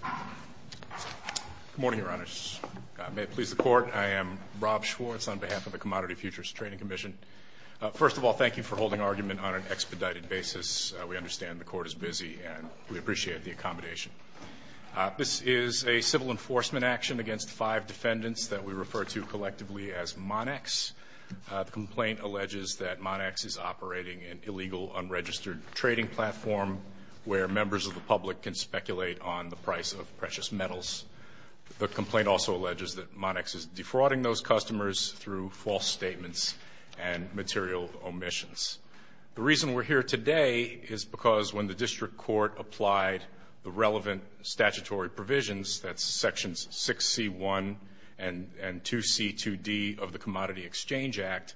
Good morning, Your Honors. May it please the Court, I am Rob Schwartz on behalf of the Commodity Futures Trading Commission. First of all, thank you for holding argument on an expedited basis. We understand the Court is busy and we appreciate the accommodation. This is a civil enforcement action against five defendants that we refer to collectively as Monex. The complaint alleges that Monex is operating an illegal unregistered trading platform where members of the public can speculate on the price of precious metals. The complaint also alleges that Monex is defrauding those customers through false statements and material omissions. The reason we're here today is because when the District Court applied the relevant statutory provisions, that's sections 6C1 and 2C2D of the Commodity Exchange Act,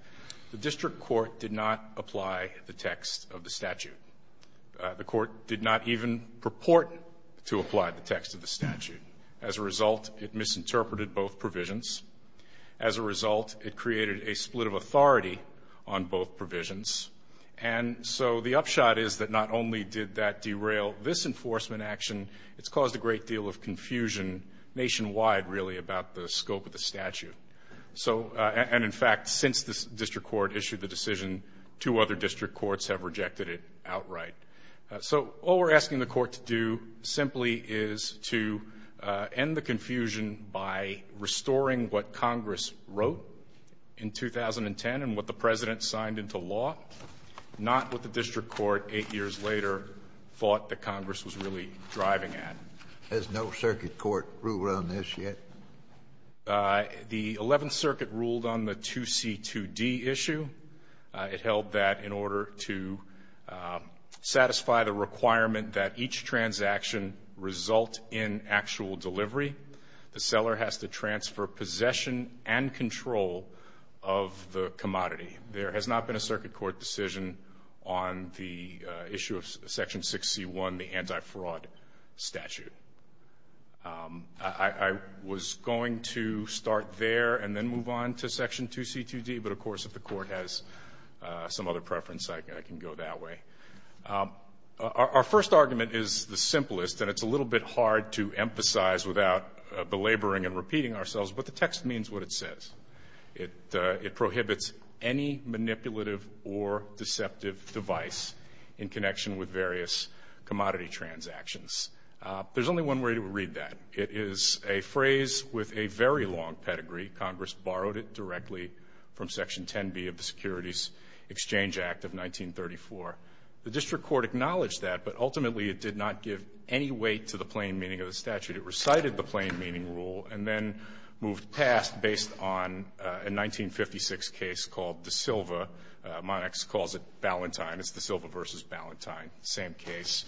the District Court did not apply the text of the statute. As a result, it misinterpreted both provisions. As a result, it created a split of authority on both provisions. And so the upshot is that not only did that derail this enforcement action, it's caused a great deal of confusion nationwide, really, about the scope of the statute. So and in fact, since the District Court issued the decision, two other District Courts have rejected it outright. So all we're asking the Court to do simply is to end the confusion by restoring what Congress wrote in 2010 and what the President signed into law, not what the District Court eight years later thought that Congress was really driving at. Has no circuit court ruled on this yet? The 11th Circuit ruled on the 2C2D issue. It held that in order to satisfy the requirement that each transaction result in actual delivery, the seller has to transfer possession and control of the commodity. There has not been a start there and then move on to Section 2C2D. But of course, if the Court has some other preference, I can go that way. Our first argument is the simplest, and it's a little bit hard to emphasize without belaboring and repeating ourselves, but the text means what it says. It prohibits any manipulative or deceptive device in connection with various commodity transactions. There's only one way to read that. It is a phrase with a very long pedigree. Congress borrowed it directly from Section 10B of the Securities Exchange Act of 1934. The District Court acknowledged that, but ultimately it did not give any weight to the plain meaning of the statute. It recited the plain meaning rule and then moved past based on a 1956 case called De Silva. Monax calls it Ballantyne. It's De Silva versus Ballantyne, same case.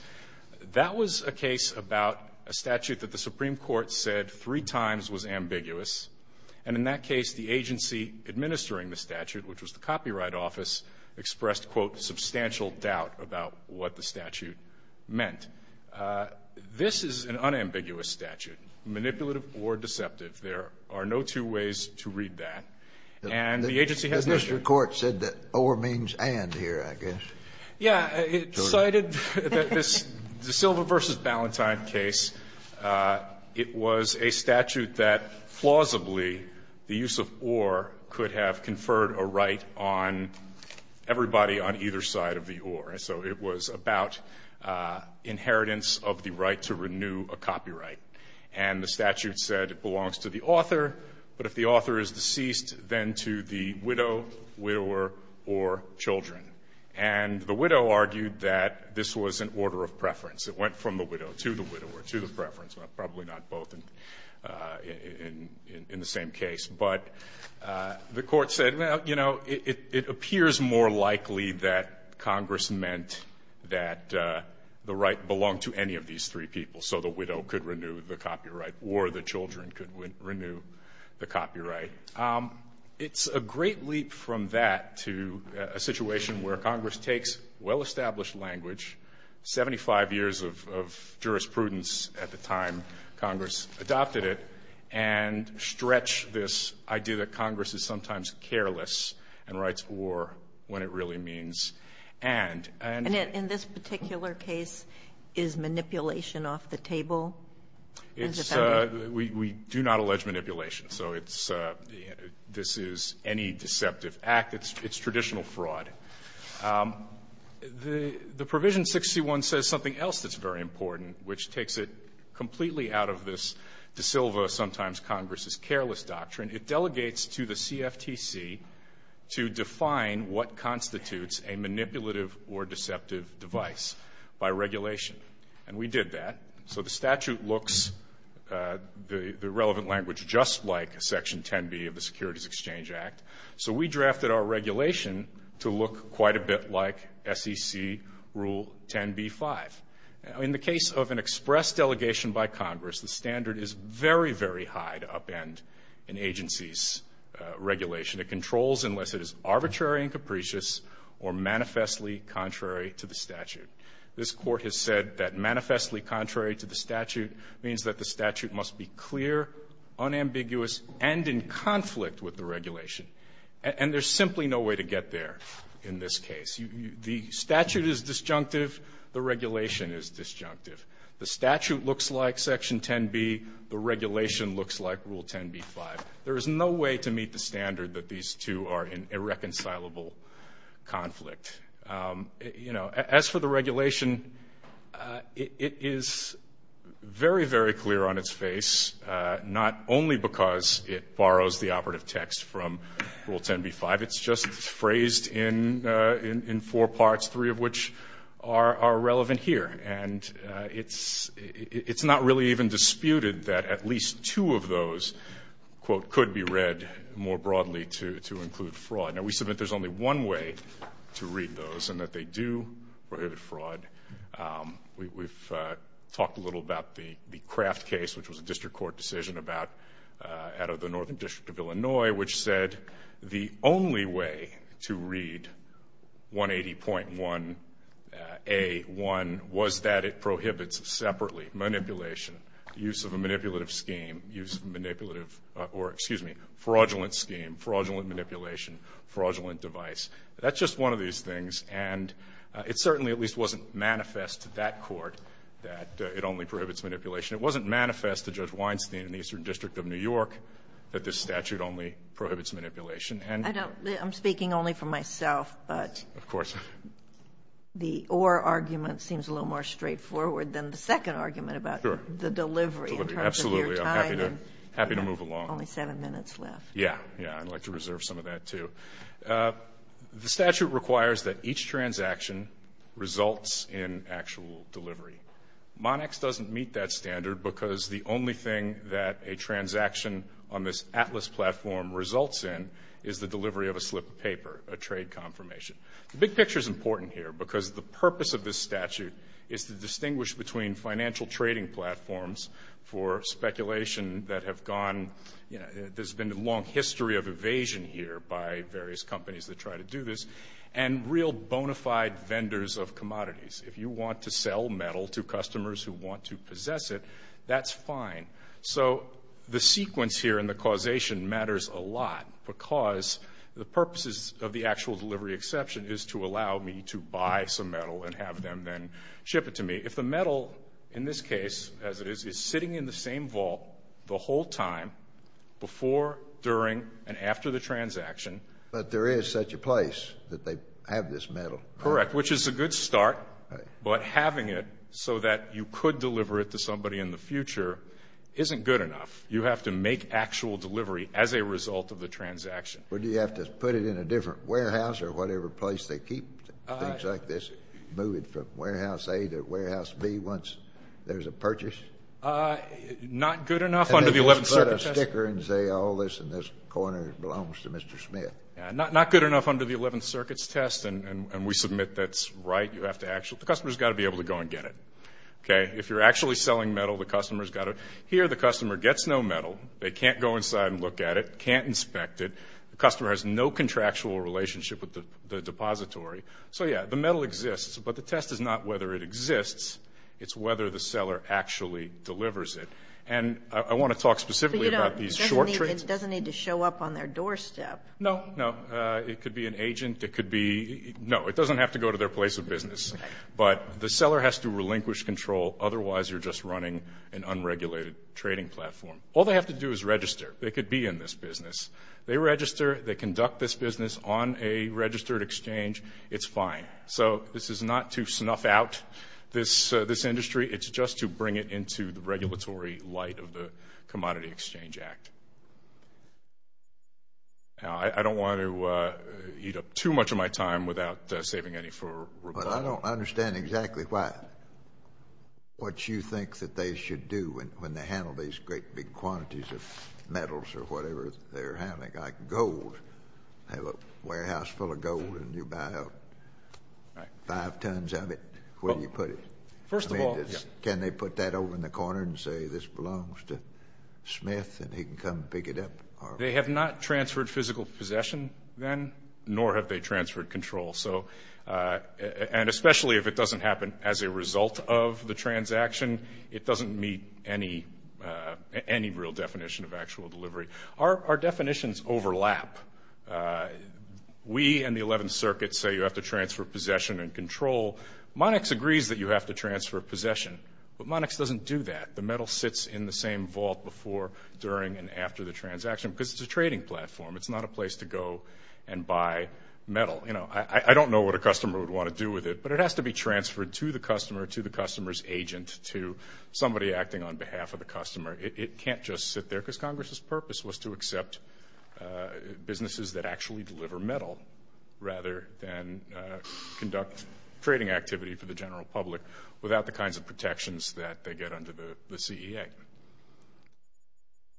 That was a case about a statute that the Supreme Court said three times was ambiguous, and in that case, the agency administering the statute, which was the Copyright Office, expressed, quote, substantial doubt about what the statute meant. This is an unambiguous statute, manipulative or deceptive. There are no two ways to read that. And the agency has no question. Scaliar. The District Court said that or means and here, I guess. Yeah. It cited that this De Silva versus Ballantyne case, it was a statute that plausibly the use of or could have conferred a right on everybody on either side of the or. So it was about inheritance of the right to renew a copyright. And the statute said it belongs to the author, but if the author is deceased, then to the widow, widower, or children. And the widow argued that this was an order of preference. It went from the widow to the widower to the preference, but probably not both in the same case. But the Court said, well, you know, it appears more likely that Congress meant that the right belonged to any of these three people, so the widow could renew the copyright or the children could renew the copyright. It's a great leap from that to a situation where Congress takes well-established language, 75 years of jurisprudence at the time Congress adopted it, and stretched this idea that Congress is sometimes careless and writes or when it really means and. And in this particular case, is manipulation off the table? It's a we do not allege manipulation. So it's this is any deceptive act. It's traditional fraud. The provision 61 says something else that's very important, which takes it completely out of this de silva, sometimes Congress's careless doctrine. It delegates to the CFTC to define what constitutes a manipulative or deceptive device by regulation. And we did that. So the statute looks the relevant language just like Section 10b of the Securities Exchange Act. So we drafted our regulation to look quite a bit like SEC Rule 10b-5. In the case of an express delegation by Congress, the standard is very, very high to upend an agency's regulation. It controls unless it is arbitrary and capricious or manifestly contrary to the statute. This Court has said that manifestly contrary to the statute means that the statute must be clear, unambiguous, and in conflict with the regulation. And there's simply no way to get there in this case. The statute is disjunctive. The regulation is disjunctive. The statute looks like Section 10b. The regulation looks like Rule 10b-5. There is no way to meet the standard that these two are in irreconcilable conflict. You know, as for the regulation, it is very, very clear on its face, not only because it borrows the operative text from Rule 10b-5. It's just phrased in four parts, three of which are relevant here. And it's not really even disputed that at least two of those, quote, could be read more broadly to include fraud. Now, we submit there's only one way to read those, and that they do prohibit fraud. We've talked a little about the Kraft case, which was a district court decision about out of the Northern District of Illinois, which said the only way to read 180.1a.1 was that it prohibits separately manipulation, use of a manipulative scheme, use of manipulative or, excuse me, fraudulent scheme, fraudulent manipulation, fraudulent device. That's just one of these things. And it certainly at least wasn't manifest to that court that it only prohibits manipulation. It wasn't manifest to Judge Weinstein in the Eastern District of New York that this statute only prohibits manipulation. And I'm speaking only for myself, but the or argument seems a little more straightforward than the second argument about the delivery in terms of your time. Absolutely. I'm happy to move along. Only seven minutes left. Yeah. Yeah. I'd like to reserve some of that, too. The statute requires that each transaction results in actual delivery. Monex doesn't meet that standard because the only thing that a transaction on this Atlas platform results in is the delivery of a slip of paper, a trade confirmation. The big picture is important here because the purpose of this statute is to distinguish between financial trading platforms for speculation that have gone, you know, there's been a long history of evasion here by various companies that try to do this, and real bona fide vendors of commodities. If you want to sell metal to customers who want to possess it, that's fine. So the sequence here in the causation matters a lot because the purposes of the actual delivery exception is to allow me to buy some metal and have them then ship it to me. If the metal in this case, as it is, is sitting in the same vault the whole time before, during, and after the transaction. But there is such a place that they have this metal. Correct. Which is a good start, but having it so that you could deliver it to somebody in the future isn't good enough. You have to make actual delivery as a result of the transaction. But do you have to put it in a different warehouse or whatever place they keep things like this? Move it from warehouse A to warehouse B once there's a purchase? Not good enough under the 11th Circuit's test. And they just put a sticker and say all this in this corner belongs to Mr. Smith. Not good enough under the 11th Circuit's test, and we submit that's right. You have to actually, the customer's got to be able to go and get it. Okay? If you're actually selling metal, the customer's got to, here the customer gets no metal. They can't go inside and look at it, can't inspect it. The customer has no contractual relationship with the depository. So yeah, the metal exists, but the test is not whether it exists. It's whether the seller actually delivers it. And I want to talk specifically about these short trades. It doesn't need to show up on their doorstep. No, no. It could be an agent. It could be, no, it doesn't have to go to their place of business. But the seller has to relinquish control. Otherwise, you're just running an unregulated trading platform. All they have to do is register. They could be in this business. They register, they conduct this business on a registered exchange. It's fine. So this is not to snuff out this industry. It's just to bring it into the regulatory light of the Commodity Exchange Act. Now, I don't want to eat up too much of my time without saving any for rebuttal. But I don't understand exactly why, what you think that they should do when they handle these great big quantities of metals or whatever they're handling, like gold. They have a warehouse full of gold, and you buy out five tons of it. Where do you put it? First of all, yeah. Can they put that over in the corner and say, this belongs to Smith, and he can come pick it up? They have not transferred physical possession then, nor have they transferred control. So, and especially if it doesn't happen as a result of the transaction, it doesn't meet any real definition of actual delivery. Our definitions overlap. We and the 11th Circuit say you have to transfer possession and control. Monix agrees that you have to transfer possession, but Monix doesn't do that. The metal sits in the same vault before, during, and after the transaction, because it's a trading platform. It's not a place to go and buy metal. You know, I don't know what a customer would want to do with it, but it has to be transferred to the customer, to the customer's agent, to somebody acting on behalf of the customer. It can't just sit there, because Congress's purpose was to accept businesses that actually deliver metal, rather than conduct trading activity for the general public without the kinds of protections that they get under the CEA.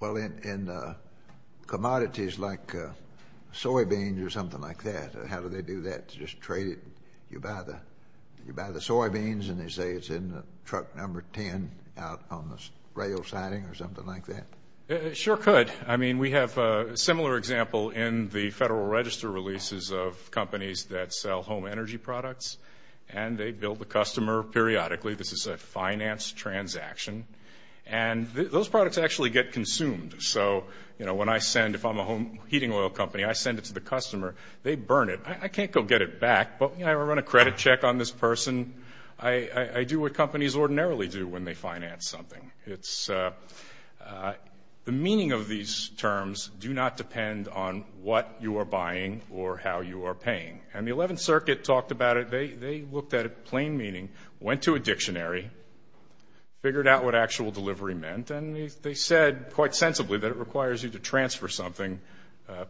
Well, in commodities like soybeans or something like that, how do they do that to just trade it? You buy the soybeans, and they say it's in the truck number 10 out on the rail siding or something like that? It sure could. I mean, we have a similar example in the Federal Register releases of companies that sell home energy products, and they bill the customer periodically. This is a finance transaction. And those products actually get consumed. So, you know, when I send, if I'm a home heating oil company, I send it to the customer, they burn it. I can't go get it back, but, you know, I run a credit check on this person. I do what companies ordinarily do when they finance something. It's, the meaning of these terms do not depend on what you are buying or how you are paying. And the 11th Circuit talked about it. They looked at it, plain meaning, went to a dictionary, figured out what actual delivery meant, and they said, quite sensibly, that it requires you to transfer something,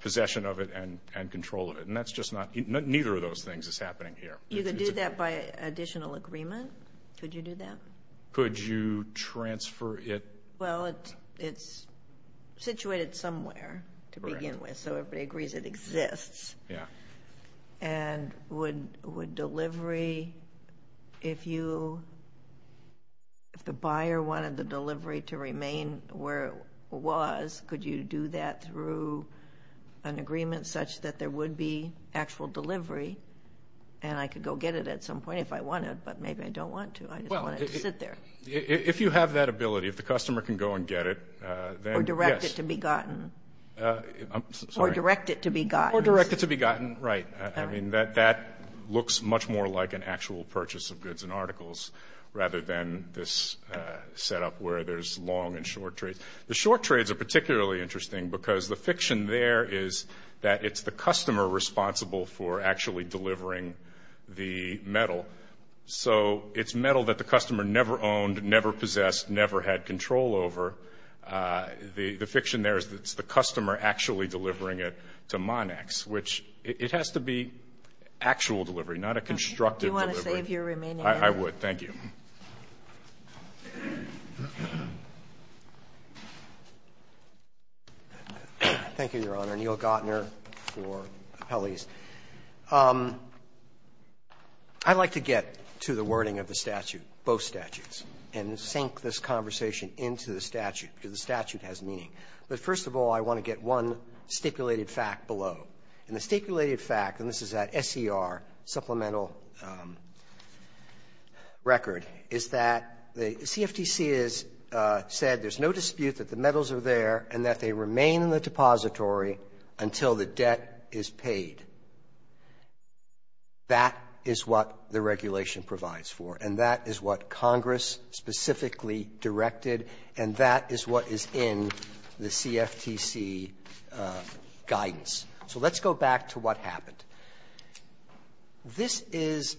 possession of it, and control of it. And that's just not, neither of those things is happening here. You could do that by additional agreement? Could you do that? Could you transfer it? Well, it's situated somewhere to begin with, so everybody agrees it exists. Yeah. And would delivery, if you, if the buyer wanted the delivery to remain where it was, could you do that through an agreement such that there would be actual delivery? And I could go get it at some point if I wanted, but maybe I don't want to. I just want it to sit there. Well, if you have that ability, if the customer can go and get it, then, yes. Or direct it to be gotten. I'm sorry. Or direct it to be gotten. Or direct it to be gotten, right. I mean, that looks much more like an actual purchase of goods and articles, rather than this setup where there's long and short trades. The short trades are particularly interesting because the fiction there is that it's the customer responsible for actually delivering the metal. So, it's metal that the customer never owned, never possessed, never had control over. The fiction there is that it's the customer actually delivering it to Monax, which it has to be actual delivery, not a constructive delivery. You want to save your remaining money? I would. Thank you. Thank you, Your Honor. Neil Gatner for appellees. I'd like to get to the wording of the statute, both statutes, and sink this conversation into the statute, because the statute has meaning. But first of all, I want to get one stipulated fact below. And the stipulated fact, and this is that SCR supplemental record, is that the CFTC has said there's no dispute that the metals are there and that they remain in the depository until the debt is paid. That is what the regulation provides for. And that is what Congress specifically directed. And that is what is in the CFTC guidance. So let's go back to what happened. This is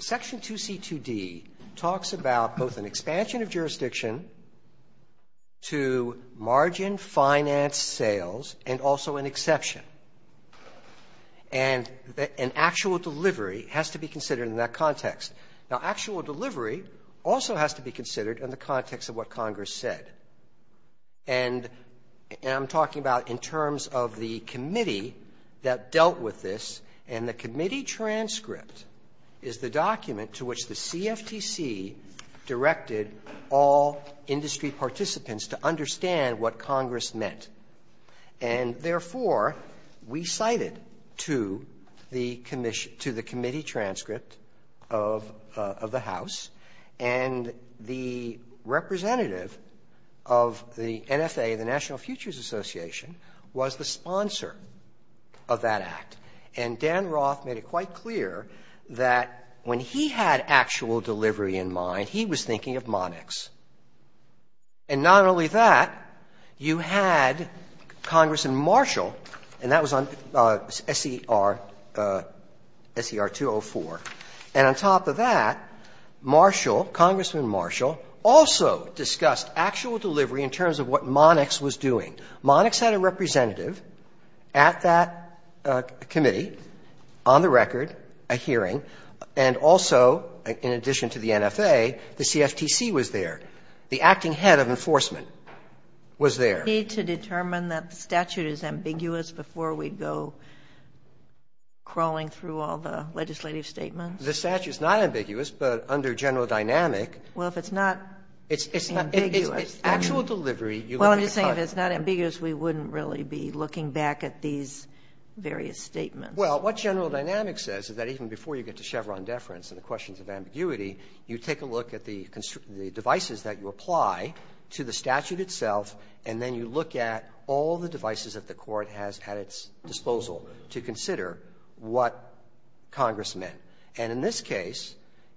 Section 2C2D talks about both an expansion of jurisdiction to margin finance sales and also an exception. And an actual delivery has to be considered in that context. Now, actual delivery also has to be considered in the context of what Congress said. And I'm talking about in terms of the committee that dealt with this. And the committee transcript is the document to which the CFTC directed all industry participants to understand what Congress meant. And, therefore, we cited to the committee transcript of the House, and the representative of the NFA, the National Futures Association, was the sponsor of that act. And Dan Roth made it quite clear that when he had actual delivery in mind, he was thinking of Monarchs. And not only that, you had Congressman Marshall, and that was on SCR, SCR 204. And on top of that, Marshall, Congressman Marshall, also discussed actual delivery in terms of what Monarchs was doing. Monarchs had a representative at that committee, on the record, a hearing, and also, in addition to the NFA, the CFTC was there. The acting head of enforcement was there. Sotomayor to determine that the statute is ambiguous before we go crawling through all the legislative statements. Gershengorn The statute is not ambiguous, but under general dynamic. Sotomayor Well, if it's not ambiguous. Gershengorn It's actual delivery. Sotomayor Well, I'm just saying if it's not ambiguous, we wouldn't really be looking back at these various statements. Gershengorn Well, what general dynamic says is that even before you get to Chevron deference and the questions of ambiguity, you take a look at the devices that you have at its disposal to consider what Congress meant. And in this case,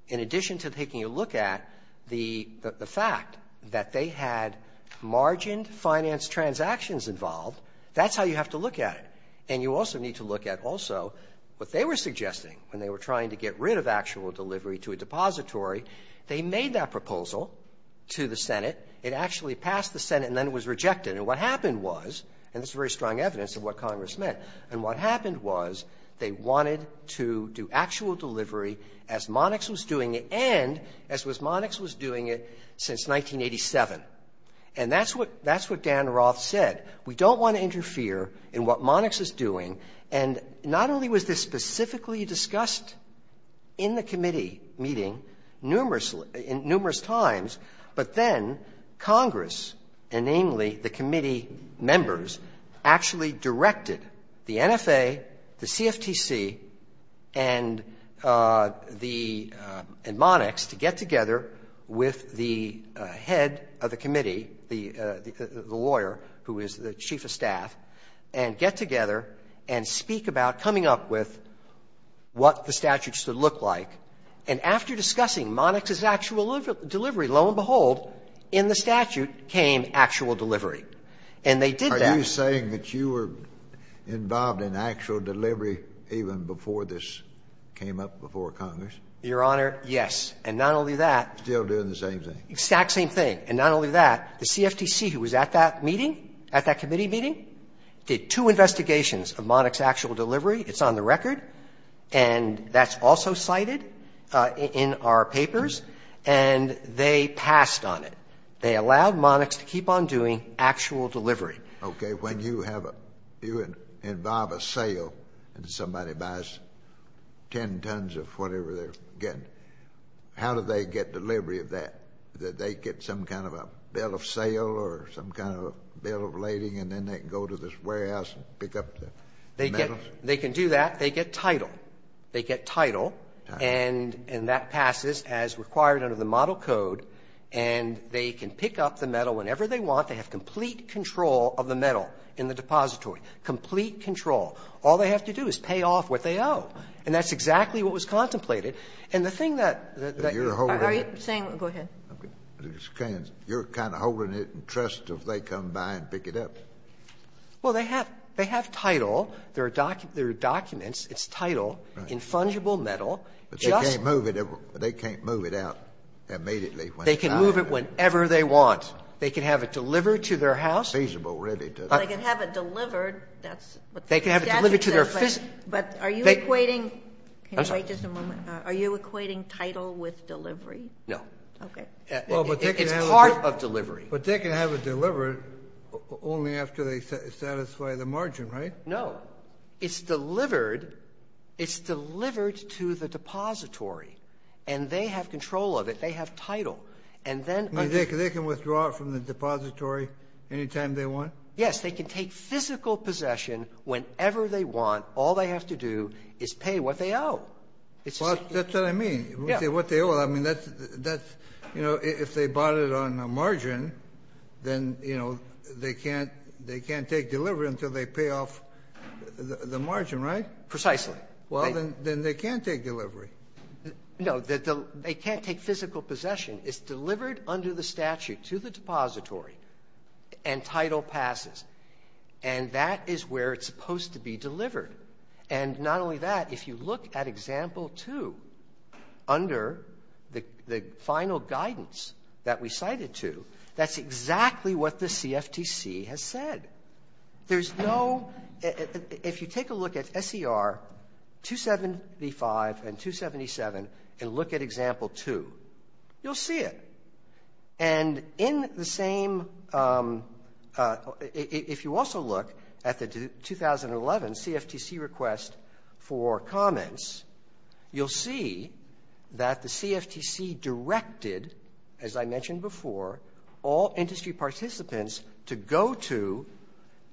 in addition to taking a look at the fact that they had margined finance transactions involved, that's how you have to look at it. And you also need to look at also what they were suggesting when they were trying to get rid of actual delivery to a depository. They made that proposal to the Senate. It actually passed the Senate, and then it was rejected. And what happened was, and this is very strong evidence of what Congress meant, and what happened was they wanted to do actual delivery as Monax was doing it and as was Monax was doing it since 1987. And that's what Dan Roth said. We don't want to interfere in what Monax is doing. And not only was this specifically discussed in the committee meeting numerously in numerous times, but then Congress, and namely the committee members, actually directed the NFA, the CFTC, and the Monax to get together with the head of the committee, the lawyer who is the chief of staff, and get together and speak about coming up with what the statute should look like. And after discussing Monax's actual delivery, lo and behold, in the statute came actual delivery. And they did that. Are you saying that you were involved in actual delivery even before this came up before Congress? Your Honor, yes. And not only that. Still doing the same thing. Exact same thing. And not only that, the CFTC, who was at that meeting, at that committee meeting, did two investigations of Monax's actual delivery. It's on the record. And that's also cited in our papers. And they passed on it. They allowed Monax to keep on doing actual delivery. Okay. When you have a you involve a sale and somebody buys 10 tons of whatever they're getting, how do they get delivery of that? Do they get some kind of a bill of sale or some kind of a bill of lading, and then they can go to this warehouse and pick up the metals? They can do that. They get title. They get title, and that passes as required under the model code. And they can pick up the metal whenever they want. They have complete control of the metal in the depository, complete control. All they have to do is pay off what they owe. And that's exactly what was contemplated. And the thing that you're holding it in trust if they come by and pick it up. Well, they have title. There are documents. It's title in fungible metal. But you can't move it. They can't move it out immediately. They can move it whenever they want. They can have it delivered to their house. Feasible, really. They can have it delivered. That's what they're suggesting. But are you equating the title with delivery? No. Okay. It's part of delivery. But they can have it delivered only after they satisfy the margin, right? No. It's delivered. It's delivered to the depository. And they have control of it. They have title. And then under the law, they can withdraw it from the depository any time they want? Yes. They can take physical possession whenever they want. All they have to do is pay what they owe. It's just like you said. Well, that's what I mean. Yeah. What they owe. I mean, that's the --" that's, you know, if they bought it on a margin, then, you know, they have the margin, right? Precisely. Well, then they can't take delivery. No. They can't take physical possession. It's delivered under the statute to the depository, and title passes. And that is where it's supposed to be delivered. And not only that, if you look at Example 2, under the final guidance that we cited to, that's exactly what the CFTC has said. There's no --" if you take a look at SER 275 and 277 and look at Example 2, you'll see it. And in the same --" if you also look at the 2011 CFTC request for comments, you'll see that the CFTC directed, as I mentioned before, all industry participants to go to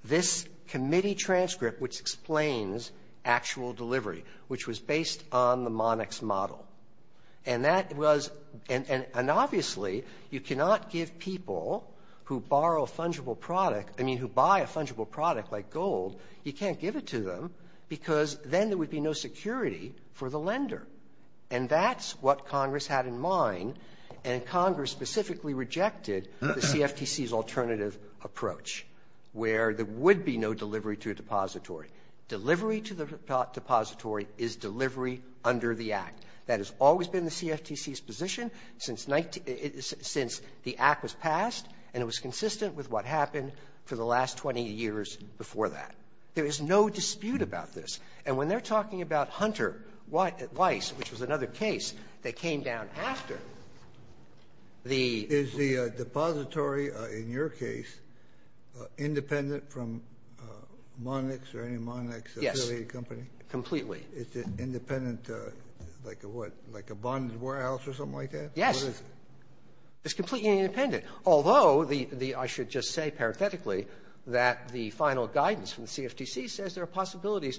this committee transcript which explains actual delivery, which was based on the Monarch's model. And that was and obviously, you cannot give people who borrow fungible product --" I mean, who buy a fungible product like gold, you can't give it to them, because And that's what Congress had in mind. And Congress specifically rejected the CFTC's alternative approach, where there would be no delivery to a depository. Delivery to the depository is delivery under the Act. That has always been the CFTC's position since 19 --" since the Act was passed, and it was consistent with what happened for the last 20 years before that. There is no dispute about this. And when they're talking about Hunter, Weiss, which was another case that came down after the Is the depository, in your case, independent from Monarchs or any Monarchs affiliated company? Completely. Is it independent, like a what? Like a bonded warehouse or something like that? Yes. It's completely independent. Although the --" I should just say, parathetically, that the final guidance from the CFTC says there are possibilities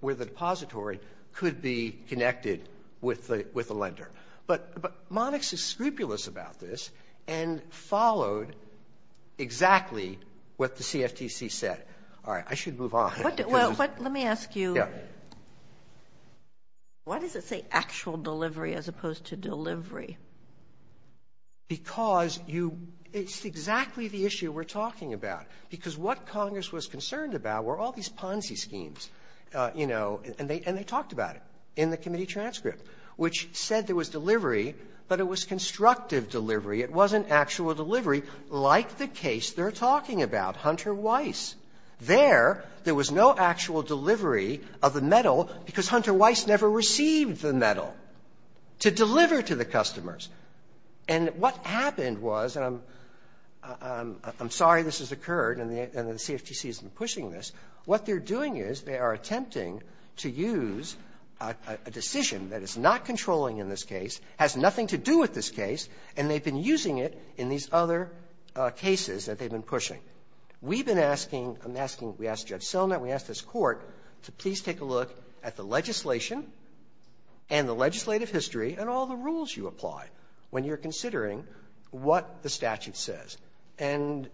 where the depository could be connected with the lender. But Monarchs is scrupulous about this and followed exactly what the CFTC said. All right. I should move on. Well, let me ask you, why does it say actual delivery as opposed to delivery? Because it's exactly the issue we're talking about. Because what Congress was concerned about were all these Ponzi schemes, you know, and they talked about it in the committee transcript, which said there was delivery, but it was constructive delivery. It wasn't actual delivery, like the case they're talking about, Hunter, Weiss. There, there was no actual delivery of the metal because Hunter, Weiss never received the metal to deliver to the customers. And what happened was, and I'm sorry this has occurred and the CFTC has been pushing this, what they're doing is they are attempting to use a decision that is not controlling in this case, has nothing to do with this case, and they've been using it in these other cases that they've been pushing. We've been asking, I'm asking, we asked Judge Sillner, we asked this Court to please take a look at the legislation and the legislative history and all the rules you apply when you're considering what the statute says. And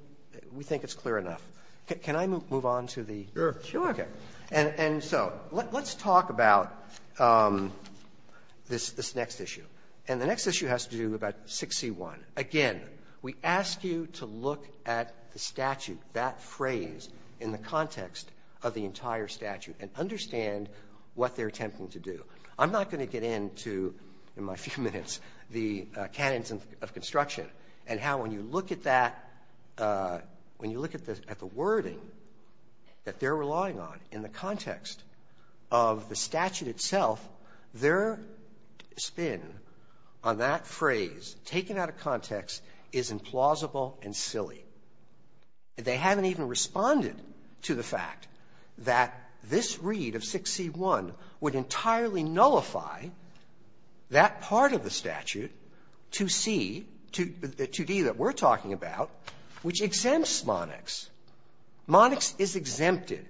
we think it's clear enough. Can I move on to the next issue? And so let's talk about this next issue. And the next issue has to do about 6C1. Again, we ask you to look at the statute, that phrase, in the context of the entire statute and understand what they're attempting to do. I'm not going to get into, in my few minutes, the canons of construction and how when you look at that, when you look at the wording that they're relying on in the context of the statute itself, their spin on that phrase, taken out of context, is implausible and silly. They haven't even responded to the fact that this read of 6C1 would entirely nullify that part of the statute, 2C, 2D, that we're talking about, which exempts Monex. Monex is exempted.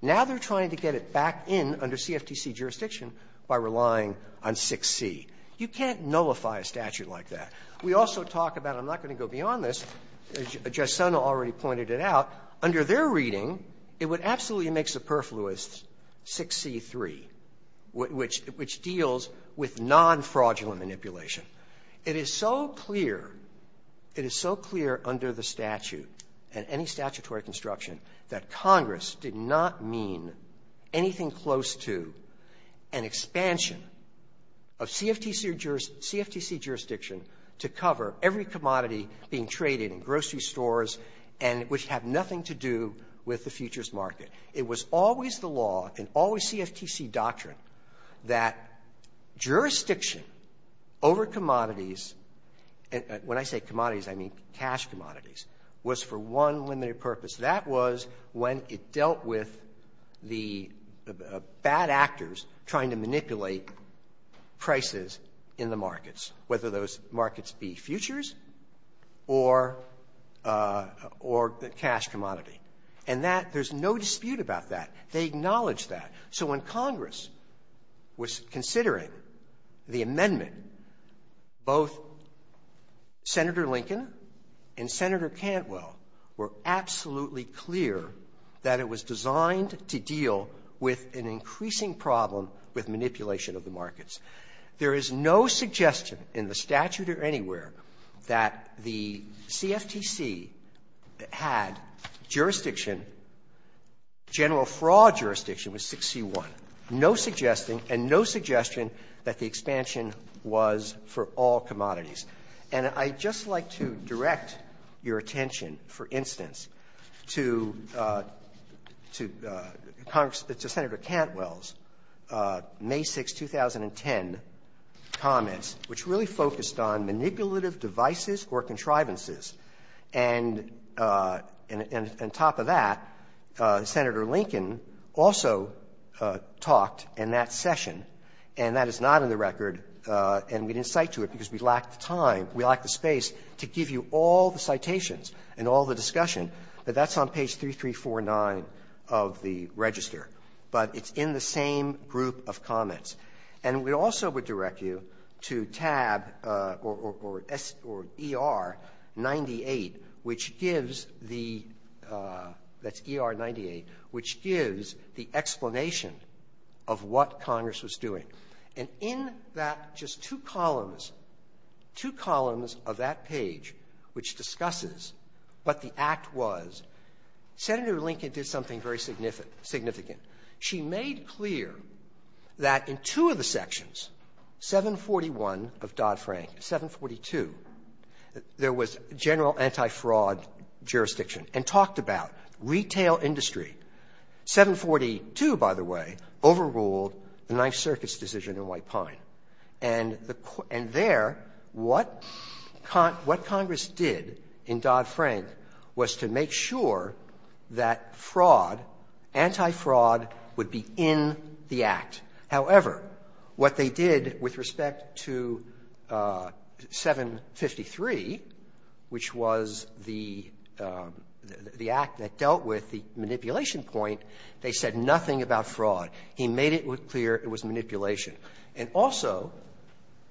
Now they're trying to get it back in under CFTC jurisdiction by relying on 6C. You can't nullify a statute like that. We also talk about, I'm not going to go beyond this, Jesson already pointed it out, under their reading, it would absolutely make superfluous 6C3, which deals with non-fraudulent manipulation. It is so clear, it is so clear under the statute and any statutory construction that Congress did not mean anything close to an expansion of CFTC jurisdiction to cover every commodity being traded in grocery stores and which have nothing to do with the futures market. It was always the law, and always CFTC doctrine, that jurisdiction over commodities and when I say commodities, I mean cash commodities, was for one limited purpose. That was when it dealt with the bad actors trying to manipulate prices in the markets, whether those markets be futures or the cash commodity. And that, there's no dispute about that. They acknowledge that. So when Congress was considering the amendment, both Senator Lincoln and Senator Cantwell were absolutely clear that it was designed to deal with an increasing problem with manipulation of the markets. There is no suggestion in the statute or anywhere that the CFTC had jurisdiction general fraud jurisdiction with 6C1, no suggesting and no suggestion that the expansion was for all commodities. And I'd just like to direct your attention, for instance, to Congress, to Senator Cantwell's May 6, 2010, comments, which really focused on manipulative devices or contrivances. And on top of that, Senator Lincoln also talked in that session, and that is not in the record, and we didn't cite to it because we lacked the time, we lacked the space to give you all the citations and all the discussion, but that's on page 3349 of the register. But it's in the same group of comments. And we also would direct you to tab or ER-98, which gives the ER-98, which gives the explanation of what Congress was doing. And in that just two columns, two columns of that page, which discusses what the significant, she made clear that in two of the sections, 741 of Dodd-Frank, 742, there was general anti-fraud jurisdiction and talked about retail industry. 742, by the way, overruled the Ninth Circuit's decision in White Pine. And there, what Congress did in Dodd-Frank was to make sure that fraud, anti-fraud, would be in the Act. However, what they did with respect to 753, which was the Act that dealt with the manipulation point, they said nothing about fraud. He made it clear it was manipulation. And also,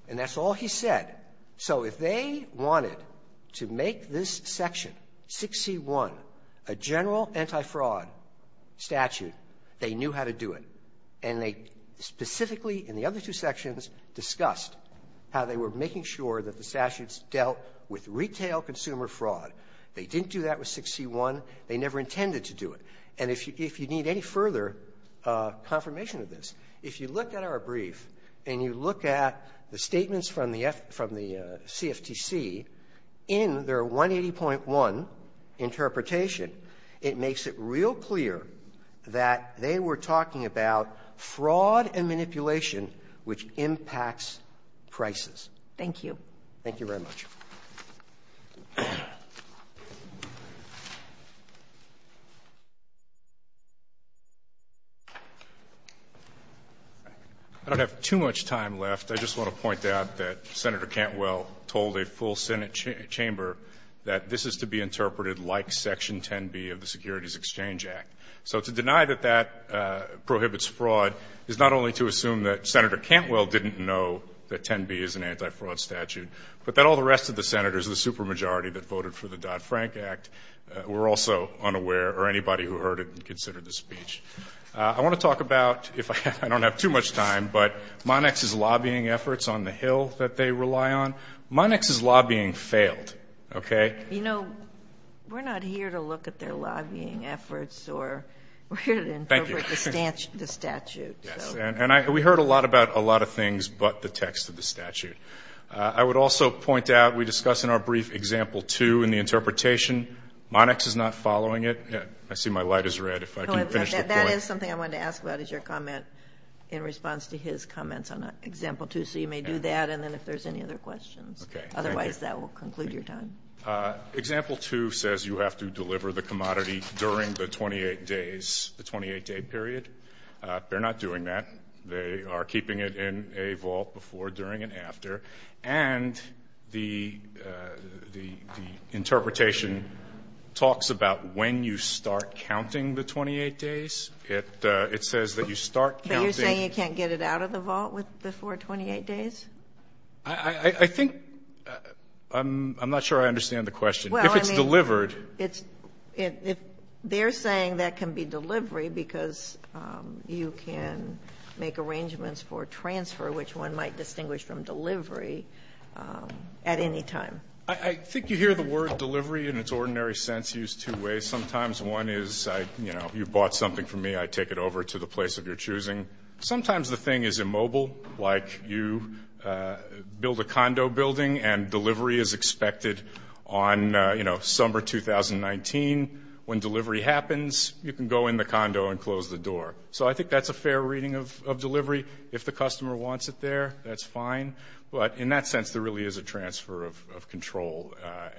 and that's all he said, so if they wanted to make this section 6C1 a general anti-fraud statute, they knew how to do it. And they specifically, in the other two sections, discussed how they were making sure that the statutes dealt with retail consumer fraud. They didn't do that with 6C1. They never intended to do it. And if you need any further confirmation of this, if you look at our brief and you look at the statements from the CFTC in their 180.1 interpretation, it makes it real clear that they were talking about fraud and manipulation, which impacts prices. I don't have too much time left. I just want to point out that Senator Cantwell told a full Senate chamber that this is to be interpreted like Section 10B of the Securities Exchange Act. So to deny that that prohibits fraud is not only to assume that Senator Cantwell didn't know that 10B is an anti-fraud statute, but that all the rest of the Senators, the supermajority that voted for the Dodd-Frank Act, were also unaware, or anybody who heard it and considered the speech. I want to talk about, if I don't have too much time, but Monex's lobbying efforts on the Hill that they rely on. Monex's lobbying failed, okay? Sotomayor, you know, we're not here to look at their lobbying efforts or we're here to interpret the statute. Thank you. Yes. And we heard a lot about a lot of things but the text of the statute. I would also point out we discuss in our brief example 2 in the interpretation. Monex is not following it. I see my light is red. If I can finish the point. That is something I wanted to ask about is your comment in response to his comments on example 2. So you may do that and then if there's any other questions. Okay. Otherwise, that will conclude your time. Example 2 says you have to deliver the commodity during the 28 days, the 28-day period. They're not doing that. They are keeping it in a vault before, during, and after. And the interpretation talks about when you start counting the 28 days. It says that you start counting. But you're saying you can't get it out of the vault with the four 28 days? I think — I'm not sure I understand the question. If it's delivered. It's — they're saying that can be delivery because you can make arrangements for transfer, which one might distinguish from delivery, at any time. I think you hear the word delivery in its ordinary sense used two ways. Sometimes one is, you know, you bought something from me. I take it over to the place of your choosing. Sometimes the thing is immobile, like you build a condo building and delivery is expected on, you know, summer 2019. When delivery happens, you can go in the condo and close the door. So I think that's a fair reading of delivery. If the customer wants it there, that's fine. But in that sense, there really is a transfer of control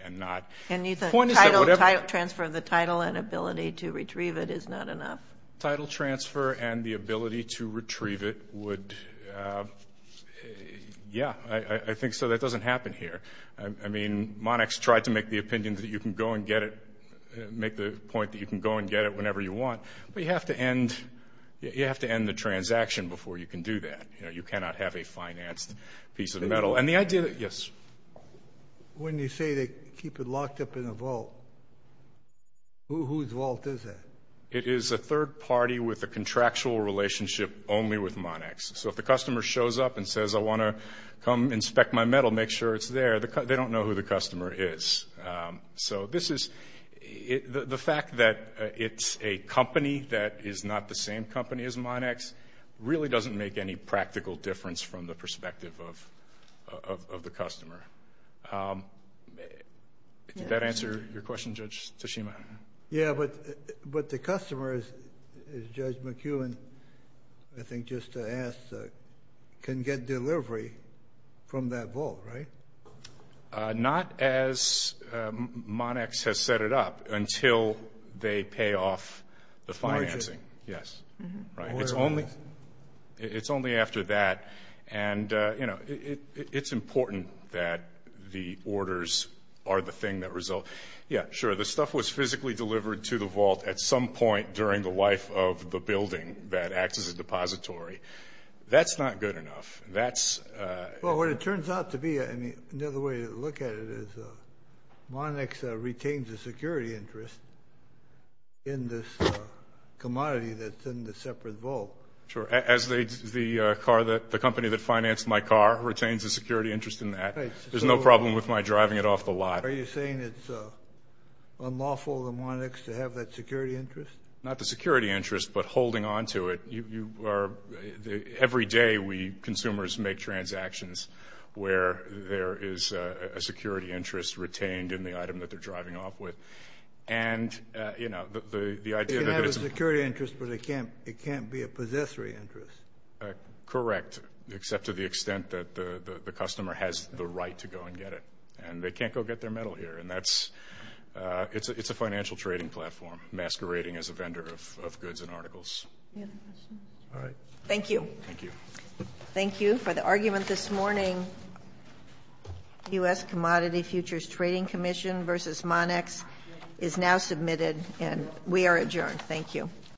and not — And you think title — The point is that whatever — Title transfer, the title and ability to retrieve it is not enough. Title transfer and the ability to retrieve it would — yeah. I think so. That doesn't happen here. I mean, Monax tried to make the opinion that you can go and get it — make the point that you can go and get it whenever you want. But you have to end — you have to end the transaction before you can do that. You know, you cannot have a financed piece of metal. And the idea that — yes? When you say they keep it locked up in a vault, whose vault is that? It is a third party with a contractual relationship only with Monax. So if the customer shows up and says, I want to come inspect my metal, make sure it's there, they don't know who the customer is. So this is — the fact that it's a company that is not the same company as Monax really doesn't make any practical difference from the perspective of the customer. Did that answer your question, Judge Tsushima? Yeah, but the customer, as Judge McEwen, I think, just asked, can get delivery from that vault, right? Not as Monax has set it up until they pay off the financing. Yes, right. It's only — it's only after that. And, you know, it's important that the orders are the thing that result. Yeah, sure, the stuff was physically delivered to the vault at some point during the life of the building that acts as a depository. That's not good enough. That's — Well, what it turns out to be, I mean, another way to look at it is Monax retains a security interest in this commodity that's in the separate vault. Sure, as the car that — the company that financed my car retains a security interest in that. There's no problem with my driving it off the lot. Are you saying it's unlawful of Monax to have that security interest? Not the security interest, but holding on to it. You are — every day we consumers make transactions where there is a security interest retained in the item that they're driving off with. And, you know, the idea that it's — They can have a security interest, but it can't be a possessory interest. Correct, except to the extent that the customer has the right to go and get it. And they can't go get their metal here. And that's — it's a financial trading platform masquerading as a vendor of goods and articles. Any other questions? All right. Thank you. Thank you. Thank you. For the argument this morning, U.S. Commodity Futures Trading Commission versus Monax is now submitted. And we are adjourned. Thank you.